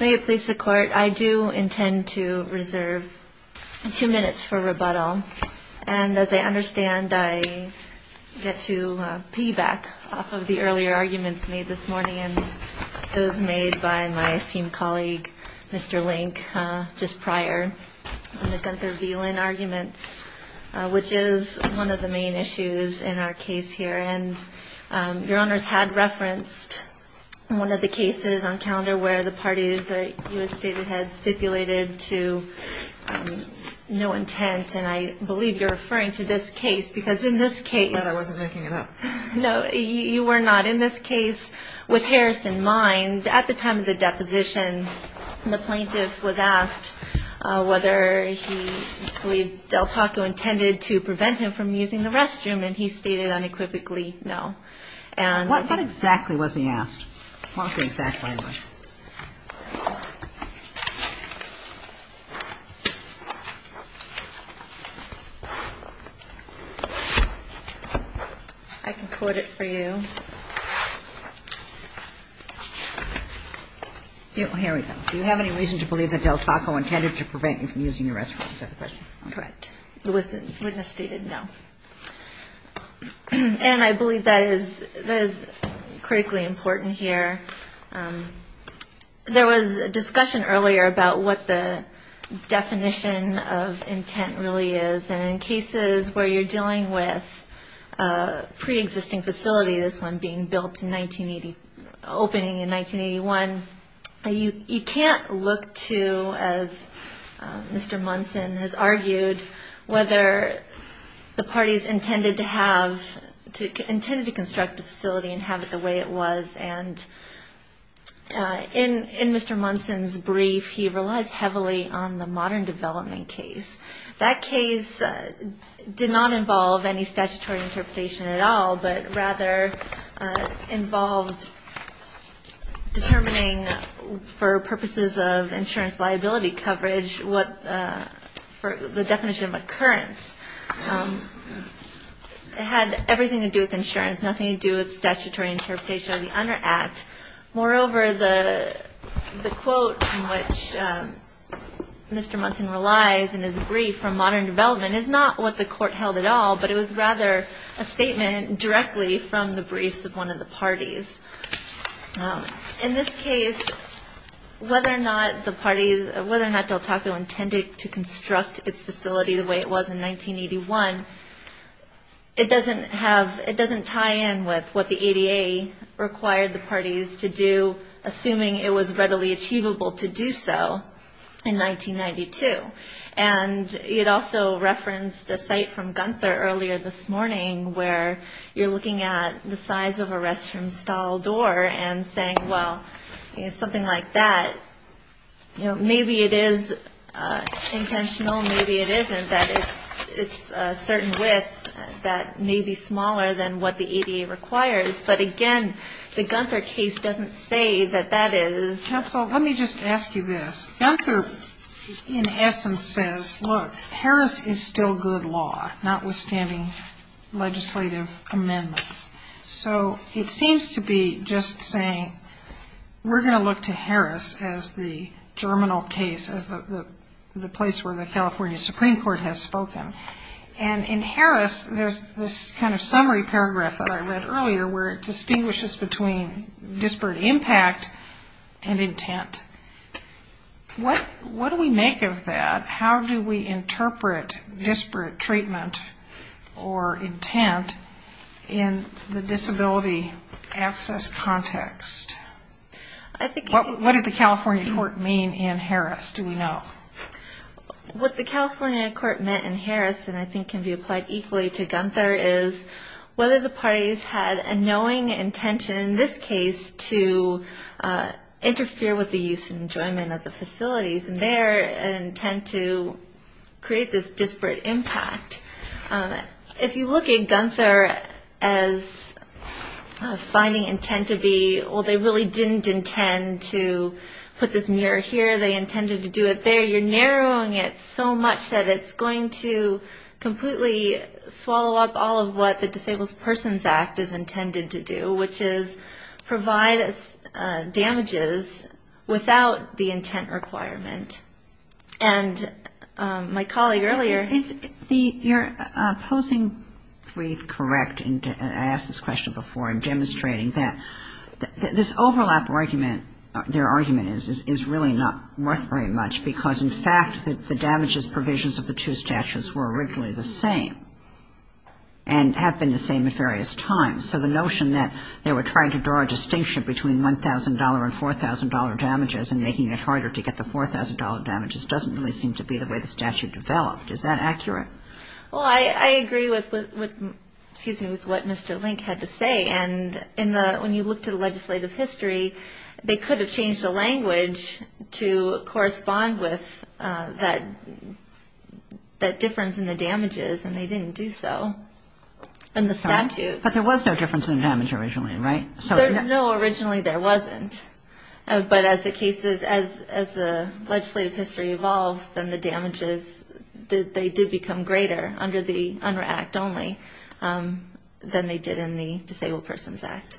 May it please the Court, I do intend to reserve two minutes for rebuttal. And as I understand, I get to piggyback off of the earlier arguments made this morning and those made by my esteemed colleague, Mr. Link, just prior on the Gunther V. Lynn arguments, which is one of the main issues in our case here. And your honors had referenced one of the cases on calendar where the parties that you had stated had stipulated to no intent, and I believe you're referring to this case, because in this case I'm glad I wasn't making it up. No, you were not. In this case, with Harris in mind, at the time of the deposition, the plaintiff was asked whether he believed Del Taco intended to prevent him from using the restroom, and he stated unequivocally no. What exactly was he asked? What was the exact language? I can quote it for you. Here we go. Do you have any reason to believe that Del Taco intended to prevent you from using the restroom? Is that the question? Correct. Witness stated no. And I believe that is critically important here. There was a discussion earlier about what the definition of intent really is, and in cases where you're dealing with a preexisting facility, this one being built in 1980, opening in 1981, you can't look to, as Mr. Munson has argued, whether the parties intended to construct the facility and have it the way it was. And in Mr. Munson's brief, he relies heavily on the modern development case. That case did not involve any statutory interpretation at all, but rather involved determining for purposes of insurance liability coverage what the definition of occurrence. It had everything to do with insurance, nothing to do with statutory interpretation of the UNDER Act. Moreover, the quote in which Mr. Munson relies in his brief on modern development is not what the court held at all, but it was rather a statement directly from the briefs of one of the parties. In this case, whether or not the parties, whether or not Del Taco intended to construct its facility the way it was in 1981, it doesn't have, it doesn't tie in with what the ADA required the parties to do, assuming it was readily achievable to do so in 1992. And it also referenced a site from Gunther earlier this morning where you're looking at the size of a restroom stall door and saying, well, something like that, maybe it is intentional, maybe it isn't, that it's a certain width that may be smaller than what the ADA requires. But again, the Gunther case doesn't say that that is. Counsel, let me just ask you this. Gunther, in essence, says, look, Harris is still good law, notwithstanding legislative amendments. So it seems to be just saying we're going to look to Harris as the germinal case, as the place where the California Supreme Court has spoken. And in Harris, there's this kind of summary paragraph that I read earlier where it distinguishes between disparate impact and intent. What do we make of that? How do we interpret disparate treatment or intent in the disability access context? What did the California court mean in Harris, do we know? What the California court meant in Harris, and I think can be applied equally to Gunther, is whether the parties had a knowing intention, in this case, to interfere with the use and enjoyment of the facilities, and their intent to create this disparate impact. If you look at Gunther as finding intent to be, well, they really didn't intend to put this mirror here, they intended to do it there, you're narrowing it so much that it's going to completely swallow up all of what the Disabled Persons Act is intended to do, which is provide damages without the intent requirement. And my colleague earlier... Is the opposing brief correct, and I asked this question before, and demonstrating that this overlap argument, their argument is, is really not worth very much because, in fact, the damages provisions of the two statutes were originally the same, and have been the same at various times. So the notion that they were trying to draw a distinction between $1,000 and $4,000 damages and making it harder to get the $4,000 damages doesn't really seem to be the way the statute developed. Is that accurate? Well, I agree with what Mr. Link had to say, and when you look to the legislative history, they could have changed the language to correspond with that difference in the damages, and they didn't do so in the statute. But there was no difference in damage originally, right? No, originally there wasn't. But as the cases, as the legislative history evolved, then the damages, they did become greater under the UNRRA Act only than they did in the Disabled Persons Act.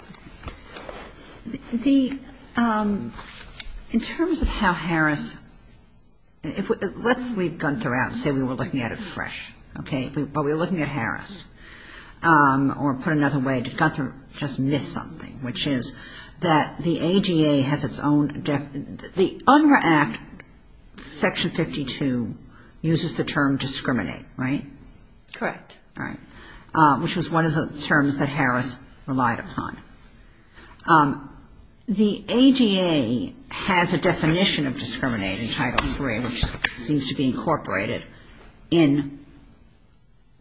The, in terms of how Harris, let's leave Gunther out and say we were looking at it fresh, okay? But we were looking at Harris. Or put another way, did Gunther just miss something, which is that the ADA has its own, the UNRRA Act Section 52 uses the term discriminate, right? Correct. Right. Which was one of the terms that Harris relied upon. The ADA has a definition of discriminate in Title III, which seems to be incorporated in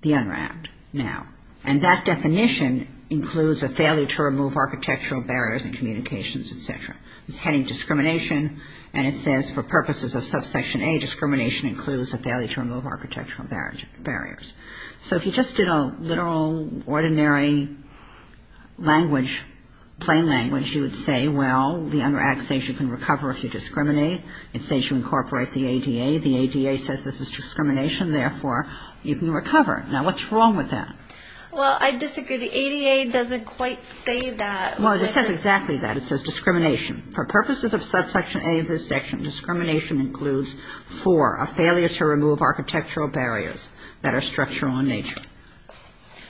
the UNRRA Act now. And that definition includes a failure to remove architectural barriers in communications, et cetera. It's heading discrimination, and it says for purposes of subsection A, discrimination includes a failure to remove architectural barriers. So if you just did a literal, ordinary language, plain language, you would say, well, the UNRRA Act says you can recover if you discriminate. It says you incorporate the ADA. The ADA says this is discrimination, therefore you can recover. Now, what's wrong with that? Well, I disagree. The ADA doesn't quite say that. Well, it says exactly that. It says discrimination. For purposes of subsection A of this section, discrimination includes for a failure to remove architectural barriers that are structural in nature.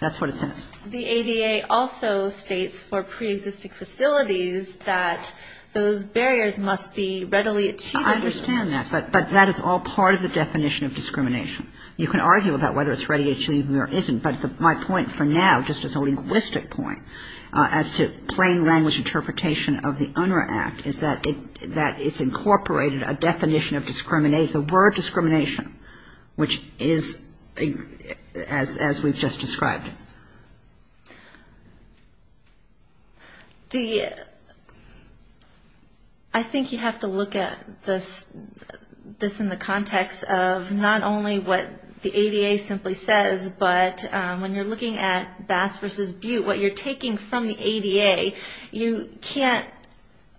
That's what it says. The ADA also states for preexisting facilities that those barriers must be readily achieved. I understand that. But that is all part of the definition of discrimination. You can argue about whether it's readily achieved or isn't, but my point for now just as a linguistic point as to plain language interpretation of the UNRRA Act is that it's incorporated a definition of discrimination, the word discrimination, which is as we've just described. I think you have to look at this in the context of not only what the ADA simply says, but when you're looking at Bass v. Butte, what you're taking from the ADA, you can't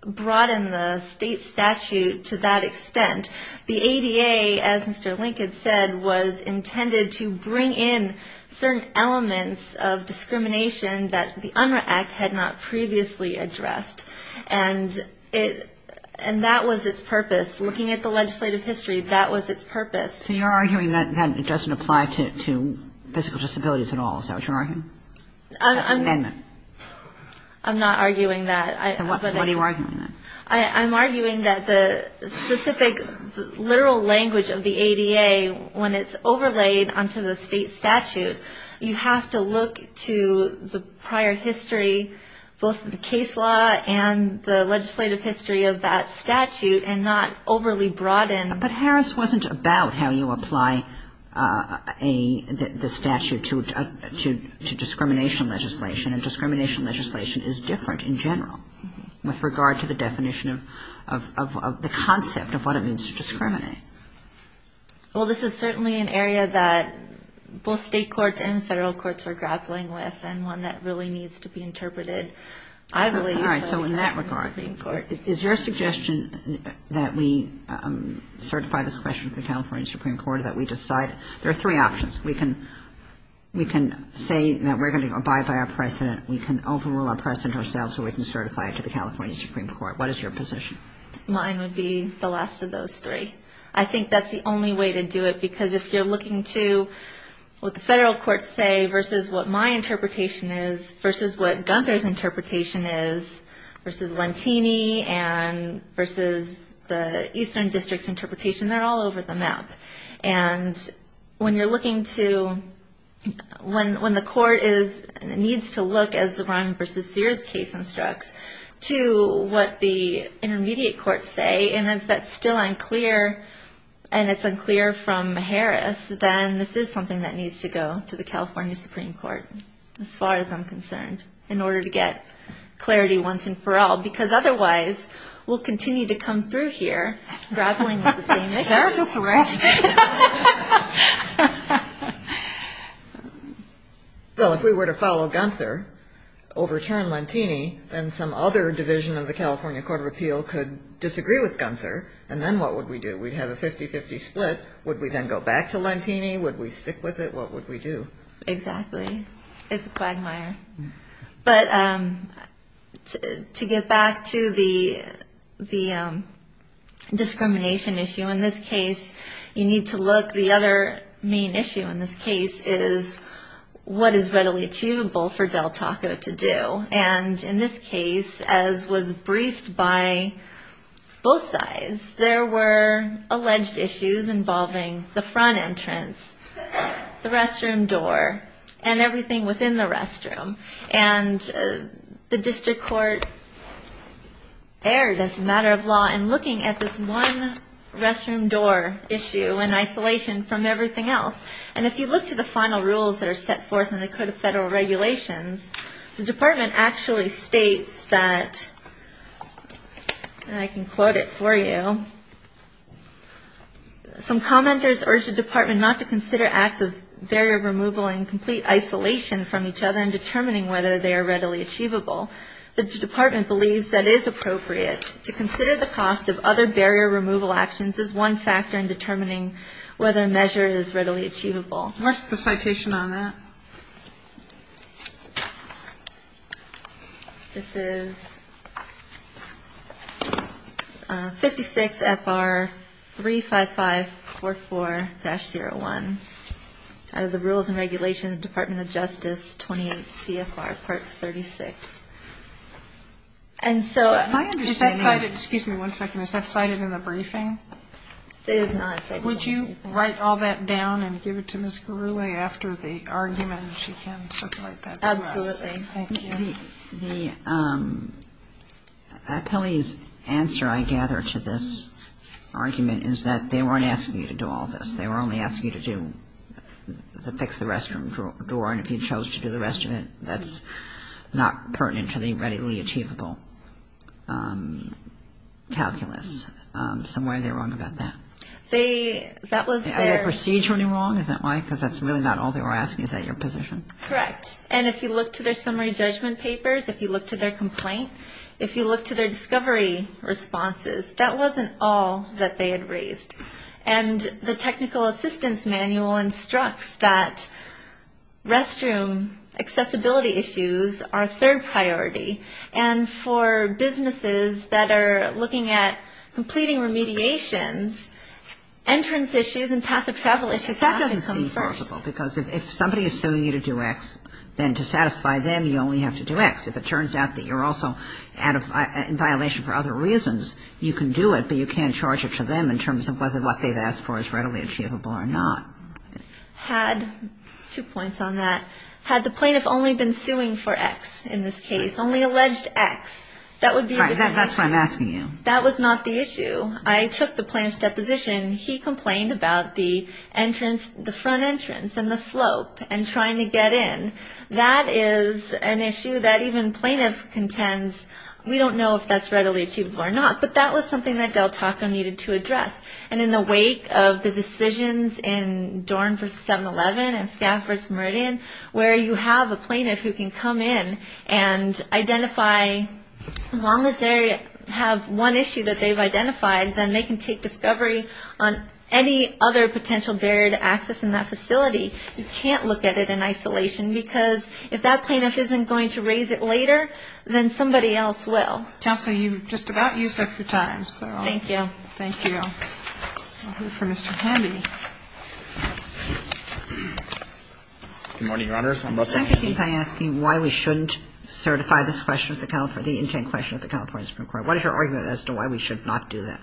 broaden the state statute to that extent. The ADA, as Mr. Lincoln said, was intended to bring in certain elements of discrimination that the UNRRA Act had not previously addressed. And it — and that was its purpose. Looking at the legislative history, that was its purpose. So you're arguing that it doesn't apply to physical disabilities at all. Is that what you're arguing? I'm not arguing that. What are you arguing then? I'm arguing that the specific literal language of the ADA, when it's overlaid onto the state statute, you have to look to the prior history, both the case law and the legislative history of that statute, and not overly broaden. But Harris wasn't about how you apply the statute to discrimination legislation, is different in general with regard to the definition of the concept of what it means to discriminate. Well, this is certainly an area that both state courts and federal courts are grappling with and one that really needs to be interpreted, I believe, in the Supreme Court. All right. So in that regard, is your suggestion that we certify this question to the California Supreme Court, that we decide — there are three options. We can say that we're going to abide by our precedent, we can overrule our precedent ourselves, or we can certify it to the California Supreme Court. What is your position? Mine would be the last of those three. I think that's the only way to do it, because if you're looking to what the federal courts say versus what my interpretation is versus what Gunther's interpretation is versus Lentini and versus the Eastern District's interpretation, they're all over the map. And when you're looking to — when the court needs to look, as the Ryan v. Sears case instructs, to what the intermediate courts say, and if that's still unclear and it's unclear from Harris, then this is something that needs to go to the California Supreme Court, as far as I'm concerned, in order to get clarity once and for all. Because otherwise, we'll continue to come through here grappling with the same issues. There's a threat. Well, if we were to follow Gunther, overturn Lentini, then some other division of the California Court of Appeal could disagree with Gunther, and then what would we do? We'd have a 50-50 split. Would we then go back to Lentini? Would we stick with it? What would we do? Exactly. It's a quagmire. But to get back to the discrimination issue in this case, you need to look — the other main issue in this case is what is readily achievable for Del Taco to do. And in this case, as was briefed by both sides, there were alleged issues involving the front entrance, the restroom door, and everything within the restroom. And the district court erred, as a matter of law, in looking at this one restroom door issue in isolation from everything else. And if you look to the final rules that are set forth in the Code of Federal Regulations, the department actually states that — and I can quote it for you — some commenters urge the department not to consider acts of barrier removal in complete isolation from each other in determining whether they are readily achievable. The department believes that it is appropriate to consider the cost of other barrier removal actions as one factor in determining whether a measure is readily achievable. What's the citation on that? This is 56 FR 35544-01 out of the Rules and Regulations, Department of Justice, 28 CFR Part 36. And so — My understanding — Is that cited — excuse me one second. Is that cited in the briefing? It is not. Would you write all that down and give it to Ms. Gurule after the argument? She can circulate that to us. The appellee's answer, I gather, to this argument is that they weren't asking you to do all this. They were only asking you to do — to fix the restroom door. And if you chose to do the restroom, that's not pertinent to the readily achievable calculus. Somewhere they're wrong about that. They — that was their — Are they procedurally wrong? Is that why? Because that's really not all they were asking. Is that your position? Correct. And if you look to their summary judgment papers, if you look to their complaint, if you look to their discovery responses, that wasn't all that they had raised. And the technical assistance manual instructs that restroom accessibility issues are a third priority. And for businesses that are looking at completing remediations, entrance issues and path of travel issues have to come first. Because if somebody is suing you to do X, then to satisfy them, you only have to do X. If it turns out that you're also out of — in violation for other reasons, you can do it, but you can't charge it to them in terms of whether what they've asked for is readily achievable or not. Had — two points on that. Had the plaintiff only been suing for X in this case, only alleged X, that would be a different issue. That's what I'm asking you. I took the plaintiff's deposition. He complained about the entrance — the front entrance and the slope and trying to get in. That is an issue that even plaintiff contends we don't know if that's readily achievable or not. But that was something that Del Taco needed to address. And in the wake of the decisions in Dorn v. 7-11 and Scaff v. Meridian, where you have a plaintiff who can come in and identify as long as they have one issue that they've identified, then they can take discovery on any other potential barrier to access in that facility. You can't look at it in isolation because if that plaintiff isn't going to raise it later, then somebody else will. Counsel, you've just about used up your time. Thank you. Thank you. I'll move for Mr. Handy. Good morning, Your Honors. I'm Russell Handy. I'm thinking by asking why we shouldn't certify this question at the California — the intent question at the California Supreme Court. What is your argument as to why we should not do that?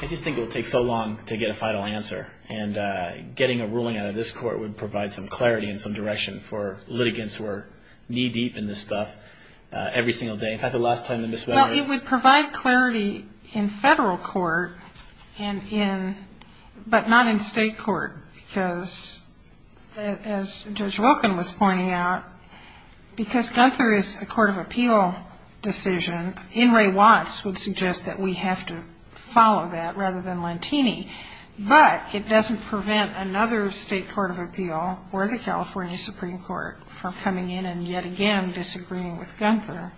I just think it would take so long to get a final answer. And getting a ruling out of this court would provide some clarity and some direction for litigants who are knee-deep in this stuff every single day. In fact, the last time that Ms. Whittaker — Well, it would provide clarity in federal court and in — but not in state court because, as Judge Wilkin was pointing out, because Gunther is a court of appeal decision, N. Ray Watts would suggest that we have to follow that rather than Lantini. But it doesn't prevent another state court of appeal or the California Supreme Court from coming in and yet again disagreeing with Gunther.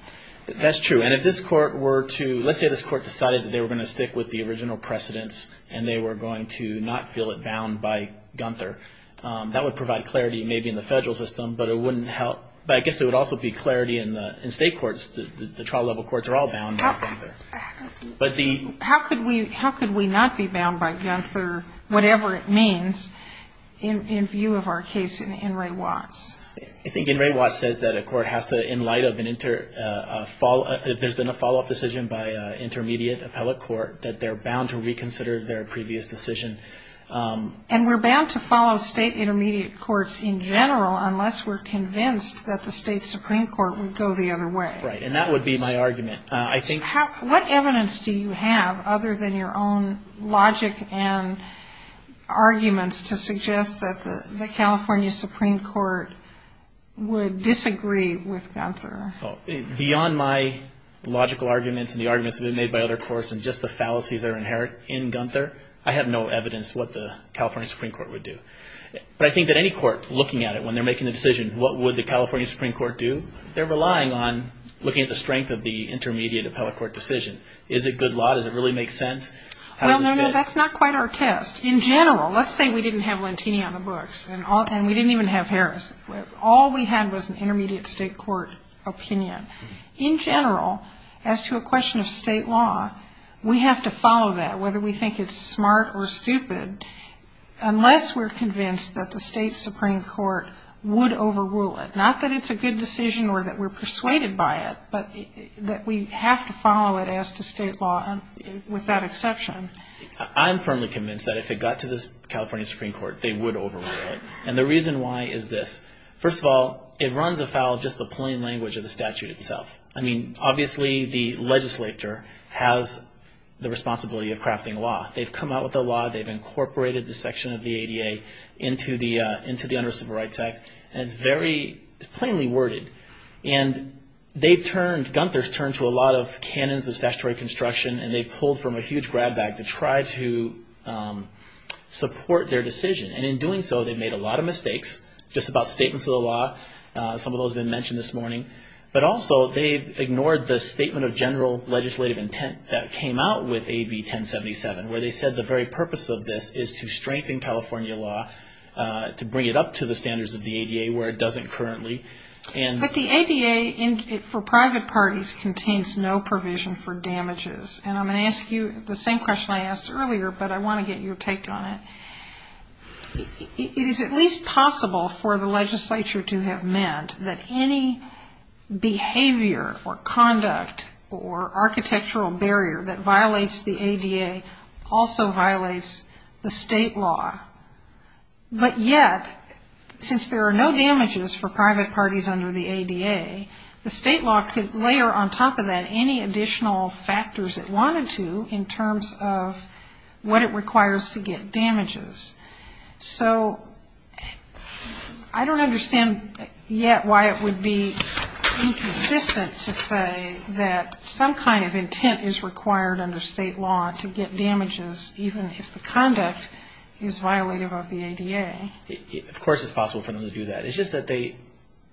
That's true. And if this court were to — let's say this court decided that they were going to stick with the original precedents and they were going to not feel it bound by Gunther. That would provide clarity maybe in the federal system, but it wouldn't help — but I guess it would also be clarity in state courts. The trial-level courts are all bound by Gunther. But the — How could we not be bound by Gunther, whatever it means, in view of our case in N. Ray Watts? I think N. Ray Watts says that a court has to, in light of an inter — there's been a follow-up decision by an intermediate appellate court, that they're bound to reconsider their previous decision. And we're bound to follow state intermediate courts in general unless we're convinced that the state Supreme Court would go the other way. Right. And that would be my argument. I think — What evidence do you have, other than your own logic and arguments, to suggest that the California Supreme Court would disagree with Gunther? Beyond my logical arguments and the arguments that have been made by other courts and just the fallacies that are inherent in Gunther, I have no evidence what the California Supreme Court would do. But I think that any court looking at it when they're making the decision, what would the California Supreme Court do, they're relying on looking at the strength of the intermediate appellate court decision. Is it good law? Does it really make sense? How does it fit? Well, no, no, that's not quite our test. In general, let's say we didn't have Lentini on the books, and we didn't even have Harris. All we had was an intermediate state court opinion. In general, as to a question of state law, we have to follow that, whether we think it's smart or stupid, unless we're convinced that the state Supreme Court would overrule it. Not that it's a good decision or that we're persuaded by it, but that we have to follow it as to state law, with that exception. I'm firmly convinced that if it got to the California Supreme Court, they would overrule it. And the reason why is this. First of all, it runs afoul of just the plain language of the statute itself. I mean, obviously the legislature has the responsibility of crafting law. They've come out with the law, they've incorporated the section of the ADA into the Under Civil Rights Act, and it's very plainly worded. And they've turned, Gunther's turned to a lot of canons of statutory construction, and they've pulled from a huge grab bag to try to support their decision. And in doing so, they've made a lot of mistakes, just about statements of the law. Some of those have been mentioned this morning. But also, they've ignored the statement of general legislative intent that came out with AB 1077, where they said the very purpose of this is to strengthen California law, to bring it up to the standards of the ADA, where it doesn't currently. But the ADA, for private parties, contains no provision for damages. And I'm going to ask you the same question I asked earlier, but I want to get your take on it. Is it at least possible for the legislature to have meant that any behavior or conduct or architectural barrier that violates the ADA also violates the state law? But yet, since there are no damages for private parties under the ADA, the state law could layer on top of that any additional factors it wanted to in terms of what it requires to get damages. So I don't understand yet why it would be inconsistent to say that some kind of intent is required under state law to get damages, even if the conduct is violative of the ADA. Of course it's possible for them to do that. It's just that they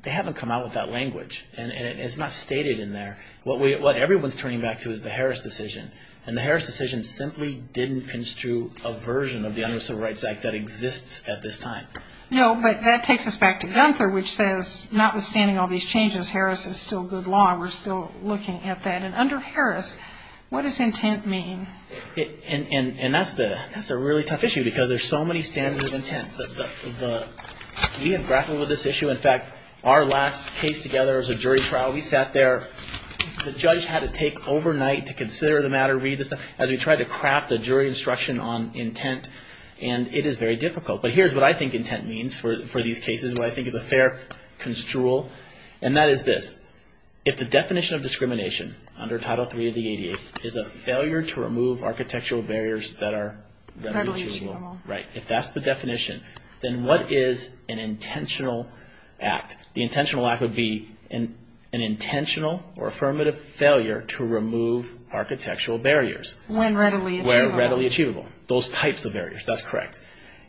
haven't come out with that language, and it's not stated in there. What everyone's turning back to is the Harris decision, and the Harris decision simply didn't construe a version of the Under Civil Rights Act that exists at this time. No, but that takes us back to Gunther, which says, notwithstanding all these changes, Harris is still good law, and we're still looking at that. And under Harris, what does intent mean? And that's a really tough issue, because there's so many standards of intent. We have grappled with this issue. In fact, our last case together was a jury trial. We sat there. The judge had to take overnight to consider the matter, read the stuff, as we tried to craft a jury instruction on intent, and it is very difficult. But here's what I think intent means for these cases, what I think is a fair construal, and that is this. If the definition of discrimination under Title III of the ADA is a failure to remove architectural barriers that are irreducible, if that's the definition, then what is an intentional act? The intentional act would be an intentional or affirmative failure to remove architectural barriers. When readily achievable. When readily achievable. Those types of barriers, that's correct.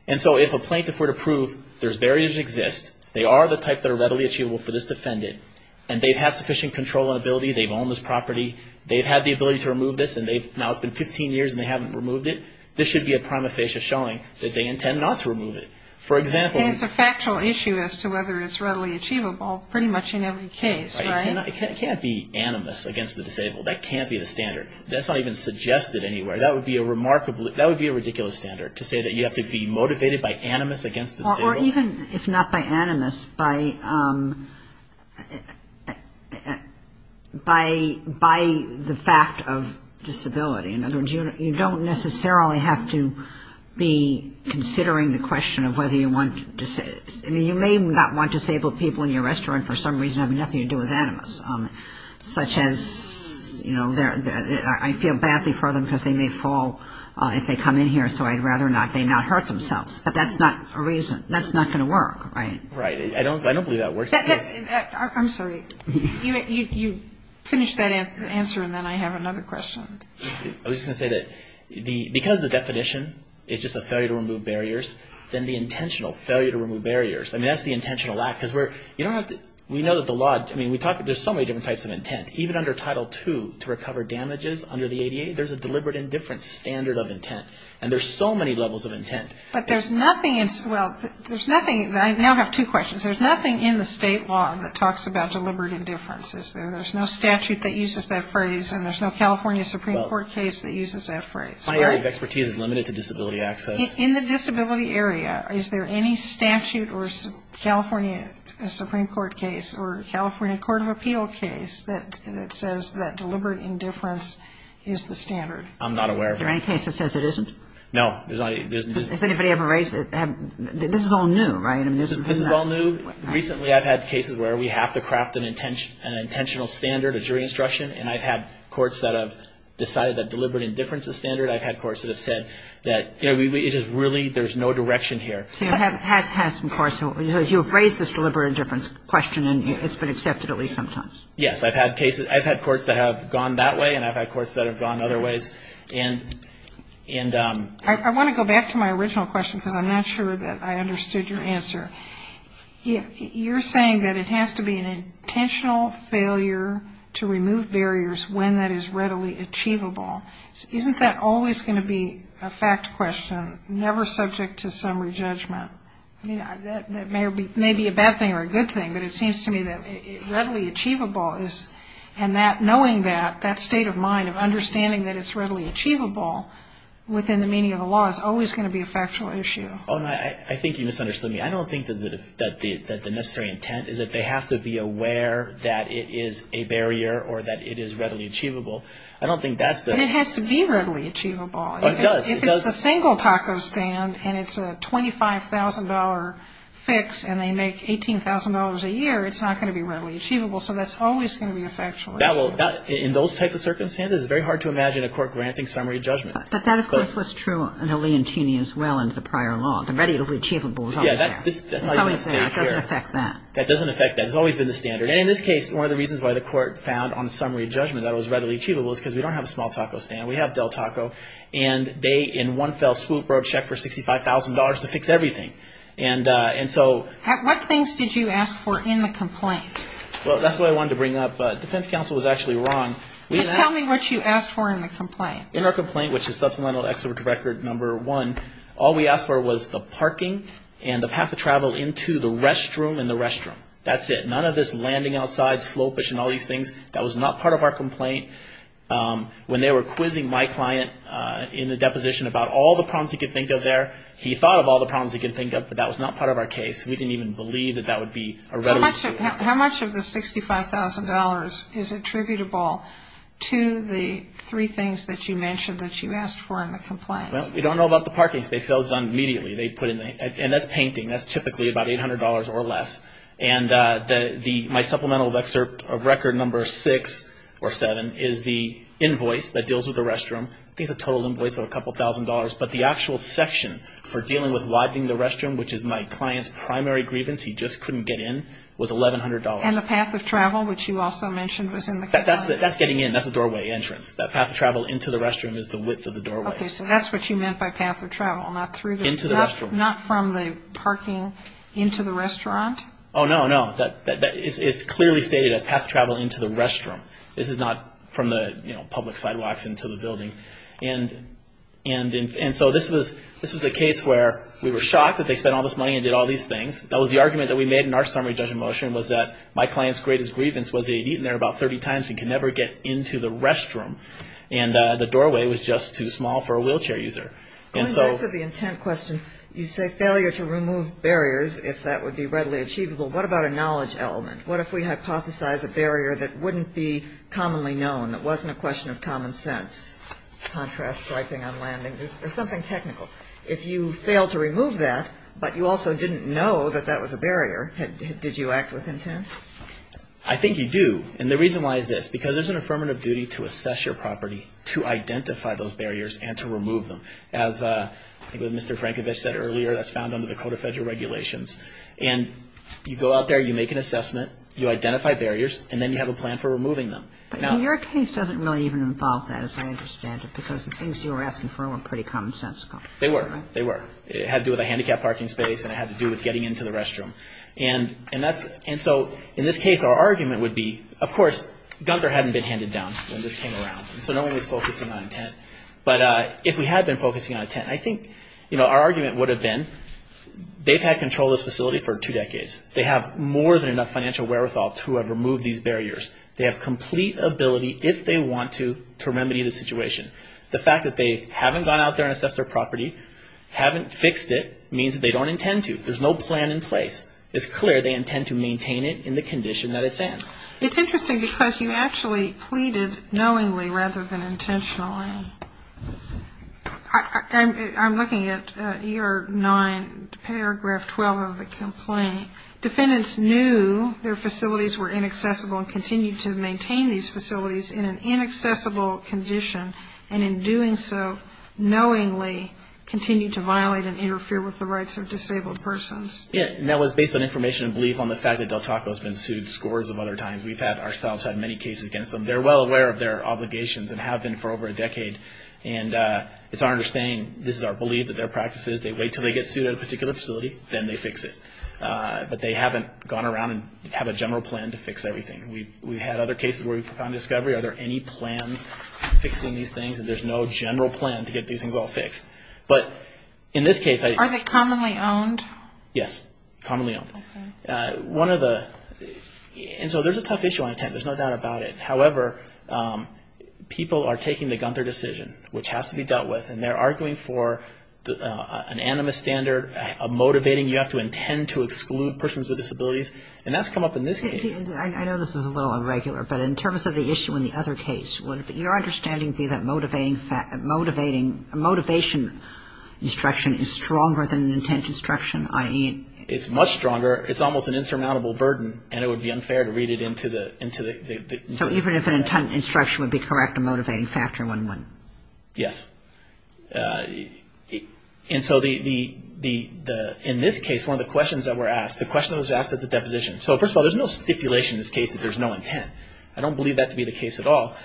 And so if a plaintiff were to prove there's barriers that exist, they are the type that are readily achievable for this defendant, and they've had sufficient control and ability, they've owned this property, they've had the ability to remove this, and now it's been 15 years and they haven't removed it, this should be a prima facie showing that they intend not to remove it. For example... And it's a factual issue as to whether it's readily achievable pretty much in every case, right? It can't be animus against the disabled. That can't be the standard. That's not even suggested anywhere. That would be a remarkable, that would be a ridiculous standard, to say that you have to be motivated by animus against the disabled. Or even if not by animus, by the fact of disability. In other words, you don't necessarily have to be considering the question of whether you want, I mean, you may not want disabled people in your restaurant for some reason having nothing to do with animus. Such as, you know, I feel badly for them because they may fall if they come in here, so I'd rather they not hurt themselves. But that's not a reason. That's not going to work, right? Right. I don't believe that works. I'm sorry. You finished that answer, and then I have another question. I was just going to say that because the definition is just a failure to remove barriers, then the intentional failure to remove barriers, I mean, that's the intentional act. Because we know that the law, I mean, there's so many different types of intent. Even under Title II, to recover damages under the ADA, there's a deliberate indifference standard of intent. And there's so many levels of intent. But there's nothing in, well, there's nothing, I now have two questions. There's nothing in the state law that talks about deliberate indifference, is there? There's no statute that uses that phrase, and there's no California Supreme Court case that uses that phrase. My area of expertise is limited to disability access. In the disability area, is there any statute or California Supreme Court case or California Court of Appeal case that says that deliberate indifference is the standard? I'm not aware of that. Is there any case that says it isn't? No. Has anybody ever raised it? This is all new, right? This is all new. Recently, I've had cases where we have to craft an intentional standard, a jury instruction, and I've had courts that have decided that deliberate indifference is standard. I've had courts that have said that, you know, it's just really, there's no direction here. So you have had some courts who have raised this deliberate indifference question, and it's been accepted at least sometimes. Yes. I've had courts that have gone that way, and I've had courts that have gone other ways. And I want to go back to my original question, because I'm not sure that I understood your answer. You're saying that it has to be an intentional failure to remove barriers when that is readily achievable. Isn't that always going to be a fact question, never subject to summary judgment? I mean, that may be a bad thing or a good thing, but it seems to me that readily achievable is, and that knowing that, that state of mind of understanding that it's readily achievable within the meaning of the law is always going to be a factual issue. I think you misunderstood me. I don't think that the necessary intent is that they have to be aware that it is a barrier or that it is readily achievable. I don't think that's the ---- But it has to be readily achievable. Oh, it does. If it's a single taco stand and it's a $25,000 fix and they make $18,000 a year, it's not going to be readily achievable. So that's always going to be a factual issue. In those types of circumstances, it's very hard to imagine a court granting summary judgment. But that, of course, was true in the Leontini as well and the prior law. Yeah. That doesn't affect that. It's always been the standard. And in this case, one of the reasons why the court found on the summary judgment that it was readily achievable is because we don't have a small taco stand. We have Del Taco, and they in one fell swoop wrote a check for $65,000 to fix everything. And so ---- What things did you ask for in the complaint? Well, that's what I wanted to bring up, but defense counsel was actually wrong. Just tell me what you asked for in the complaint. In our complaint, which is Supplemental Exhibit Record Number 1, all we asked for was the parking and the path of travel into the restroom in the restroom. That's it. None of this landing outside, slope, and all these things. That was not part of our complaint. When they were quizzing my client in the deposition about all the problems he could think of there, he thought of all the problems he could think of, but that was not part of our case. We didn't even believe that that would be a readily ---- How much of the $65,000 is attributable to the three things that you mentioned that you asked for in the complaint? Well, we don't know about the parking space. That was done immediately. And that's painting. That's typically about $800 or less. And my Supplemental Exhibit Record Number 6 or 7 is the invoice that deals with the restroom. I think it's a total invoice of a couple thousand dollars. But the actual section for dealing with widening the restroom, which is my client's primary grievance, he just couldn't get in, was $1,100. And the path of travel, which you also mentioned was in the complaint. That's getting in. That's the doorway entrance. That path of travel into the restroom is the width of the doorway. Okay, so that's what you meant by path of travel, not through the ---- Into the restroom. Not from the parking into the restaurant? Oh, no, no. It's clearly stated as path of travel into the restroom. This is not from the public sidewalks into the building. And so this was a case where we were shocked that they spent all this money and did all these things. That was the argument that we made in our summary judgment motion was that my client's greatest grievance was they had eaten there about 30 times and could never get into the restroom. And the doorway was just too small for a wheelchair user. Going back to the intent question, you say failure to remove barriers, if that would be readily achievable. What about a knowledge element? What if we hypothesize a barrier that wouldn't be commonly known, that wasn't a question of common sense? Contrast swiping on landings is something technical. If you fail to remove that, but you also didn't know that that was a barrier, did you act with intent? I think you do. And the reason why is this. Because there's an affirmative duty to assess your property, to identify those barriers, and to remove them. As Mr. Frankovich said earlier, that's found under the Code of Federal Regulations. And you go out there, you make an assessment, you identify barriers, and then you have a plan for removing them. Your case doesn't really even involve that, as I understand it, because the things you were asking for were pretty commonsensical. They were. It had to do with a handicapped parking space, and it had to do with getting into the restroom. And so in this case, our argument would be, of course, Gunther hadn't been handed down when this came around, so no one was focusing on intent. But if we had been focusing on intent, I think our argument would have been, they've had control of this facility for two decades. They have more than enough financial wherewithal to have removed these barriers. They have complete ability, if they want to, to remedy the situation. The fact that they haven't gone out there and assessed their property, haven't fixed it, means that they don't intend to. There's no plan in place. It's clear they intend to maintain it in the condition that it's in. It's interesting, because you actually pleaded knowingly rather than intentionally. I'm looking at year 9, paragraph 12 of the complaint. Defendants knew their facilities were inaccessible and continued to maintain these facilities in an inaccessible condition, and in doing so, knowingly, continued to violate and interfere with the rights of disabled persons. Yeah, and that was based on information and belief on the fact that many times we've had ourselves had many cases against them. They're well aware of their obligations and have been for over a decade. And it's our understanding, this is our belief, that their practice is they wait until they get sued at a particular facility, then they fix it. But they haven't gone around and have a general plan to fix everything. We've had other cases where we've found discovery. Are there any plans fixing these things? And there's no general plan to get these things all fixed. But in this case, I think... Are they commonly owned? Yes, commonly owned. One of the... And so there's a tough issue on intent, there's no doubt about it. However, people are taking the Gunther decision, which has to be dealt with, and they're arguing for an animus standard, a motivating you have to intend to exclude persons with disabilities, and that's come up in this case. I know this is a little irregular, but in terms of the issue in the other case, is stronger than intent instruction, i.e. It's much stronger, it's almost an insurmountable burden, and it would be unfair to read it into the... So even if an intent instruction would be correct, a motivating factor would win. Yes. And so the... In this case, one of the questions that were asked, the question that was asked at the deposition... So first of all, there's no stipulation in this case that there's no intent. I don't believe that to be the case at all.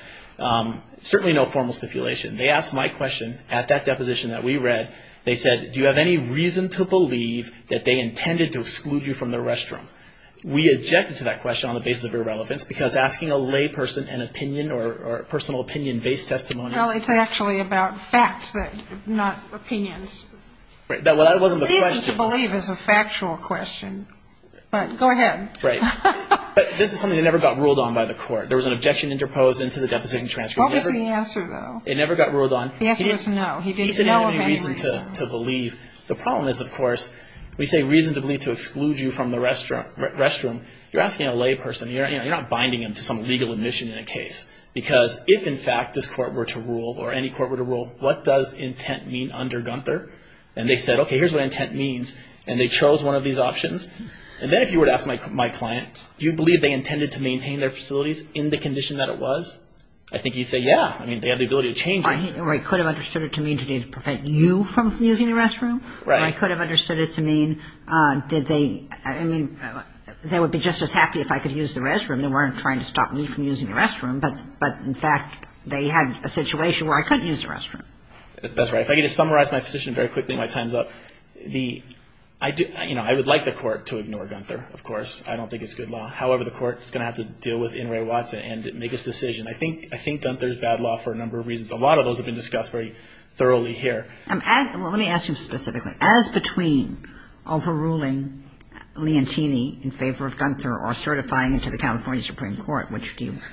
Certainly no formal stipulation. They asked my question at that deposition that we read. They said, do you have any reason to believe that they intended to exclude you from the restroom? We objected to that question on the basis of irrelevance, because asking a layperson an opinion or personal opinion-based testimony... Well, it's actually about facts, not opinions. Well, that wasn't the question. The reason to believe is a factual question, but go ahead. Right. But this is something that never got ruled on by the court. There was an objection interposed into the deposition transcript. What was the answer, though? It never got ruled on. The answer was no. He didn't have any reason to believe. The problem is, of course, we say reason to believe to exclude you from the restroom. You're asking a layperson. You're not binding them to some legal admission in a case, because if, in fact, this court were to rule, or any court were to rule, what does intent mean under Gunther? And they said, okay, here's what intent means, and they chose one of these options. And then if you were to ask my client, do you believe they intended to maintain their facilities in the condition that it was? I think he'd say, yeah. I mean, they have the ability to change it. Or he could have understood it to mean to prevent you from using the restroom. Right. Or he could have understood it to mean that they, I mean, they would be just as happy if I could use the restroom. They weren't trying to stop me from using the restroom. But, in fact, they had a situation where I couldn't use the restroom. That's right. If I could just summarize my position very quickly in my time's up. I would like the court to ignore Gunther, of course. I don't think it's good law. However, the court is going to have to deal with Inouye Watson and make its decision. I think Gunther is bad law for a number of reasons. A lot of those have been discussed very thoroughly here. Well, let me ask you specifically. As between overruling Leontini in favor of Gunther or certifying him to the California Supreme Court, which do you prefer?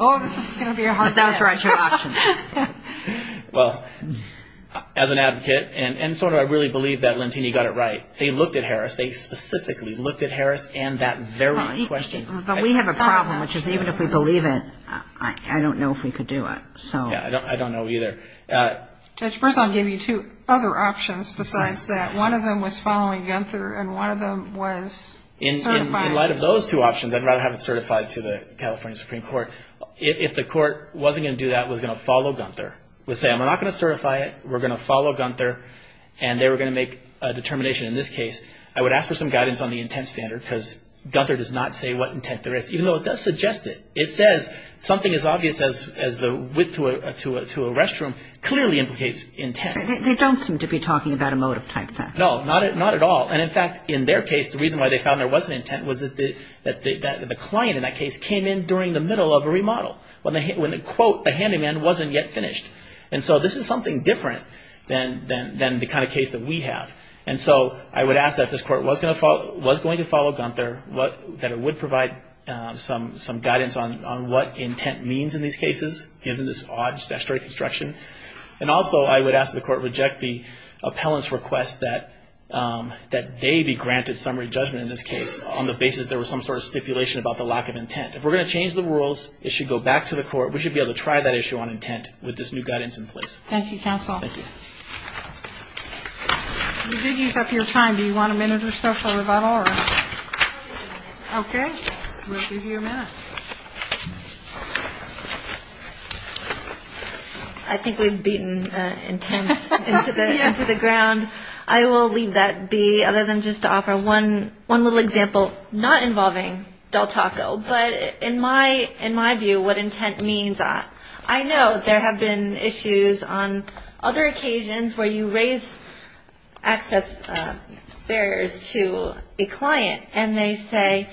Oh, this is going to be a hard yes. Well, as an advocate, and sort of I really believe that Leontini got it right, they looked at Harris. They specifically looked at Harris and that very question. But we have a problem, which is even if we believe it, I don't know if we could do it. Yeah, I don't know either. Judge, first I'll give you two other options besides that. One of them was following Gunther and one of them was certifying him. In light of those two options, I'd rather have it certified to the California Supreme Court. If the court wasn't going to do that, was going to follow Gunther, would say I'm not going to certify it, we're going to follow Gunther, and they were going to make a determination in this case, I would ask for some guidance on the intent standard because Gunther does not say what intent there is, even though it does suggest it. It says something as obvious as the width to a restroom clearly implicates intent. They don't seem to be talking about a motive type thing. No, not at all. And in fact, in their case, the reason why they found there was an intent was that the client in that case came in during the middle of a remodel when the quote, the handyman, wasn't yet finished. And so this is something different than the kind of case that we have. And so I would ask that if this court was going to follow Gunther, that it would provide some guidance on what intent means in these cases, given this odd statutory construction. And also I would ask that the court reject the appellant's request that they be granted summary judgment in this case on the basis that there was some sort of stipulation about the lack of intent. If we're going to change the rules, it should go back to the court. We should be able to try that issue on intent with this new guidance in place. Thank you, counsel. Thank you. We did use up your time. Do you want a minute or so for a rebuttal or anything? Okay. We'll give you a minute. I think we've beaten intent into the ground. I will leave that be, other than just to offer one little example, not involving Del Taco, but in my view, what intent means. I know there have been issues on other occasions where you raise access barriers to a client, and they say,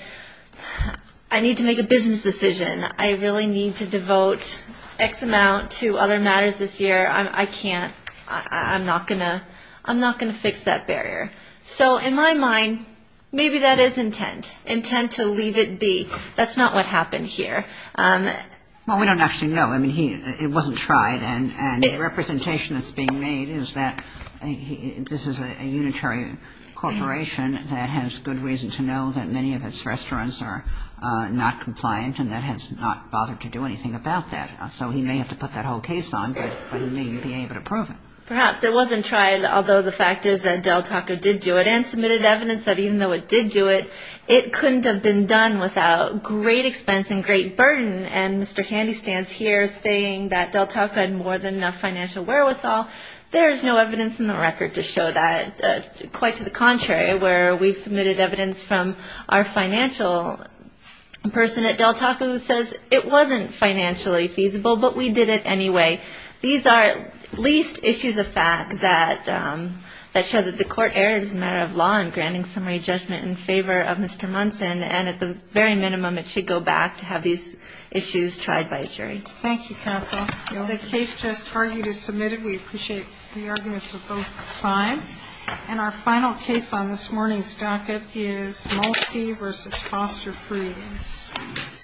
I need to make a business decision. I really need to devote X amount to other matters this year. I can't. I'm not going to fix that barrier. So in my mind, maybe that is intent, intent to leave it be. That's not what happened here. Well, we don't actually know. I mean, it wasn't tried, and the representation that's being made is that this is a unitary corporation that has good reason to know that many of its restaurants are not compliant and that has not bothered to do anything about that. So he may have to put that whole case on, but he may be able to prove it. Perhaps. It wasn't tried, although the fact is that Del Taco did do it and submitted evidence that even though it did do it, it couldn't have been done without great expense and great burden. And Mr. Handy stands here saying that Del Taco had more than enough financial wherewithal. There is no evidence in the record to show that. Quite to the contrary, where we've submitted evidence from our financial person at Del Taco who says it wasn't financially feasible, but we did it anyway. These are at least issues of fact that show that the court erred as a matter of law in granting summary judgment in favor of Mr. Munson, and at the very minimum it should go back to have these issues tried by a jury. Thank you, counsel. The case just argued is submitted. We appreciate the arguments of both sides. And our final case on this morning's docket is Molsky v. Foster Freeze.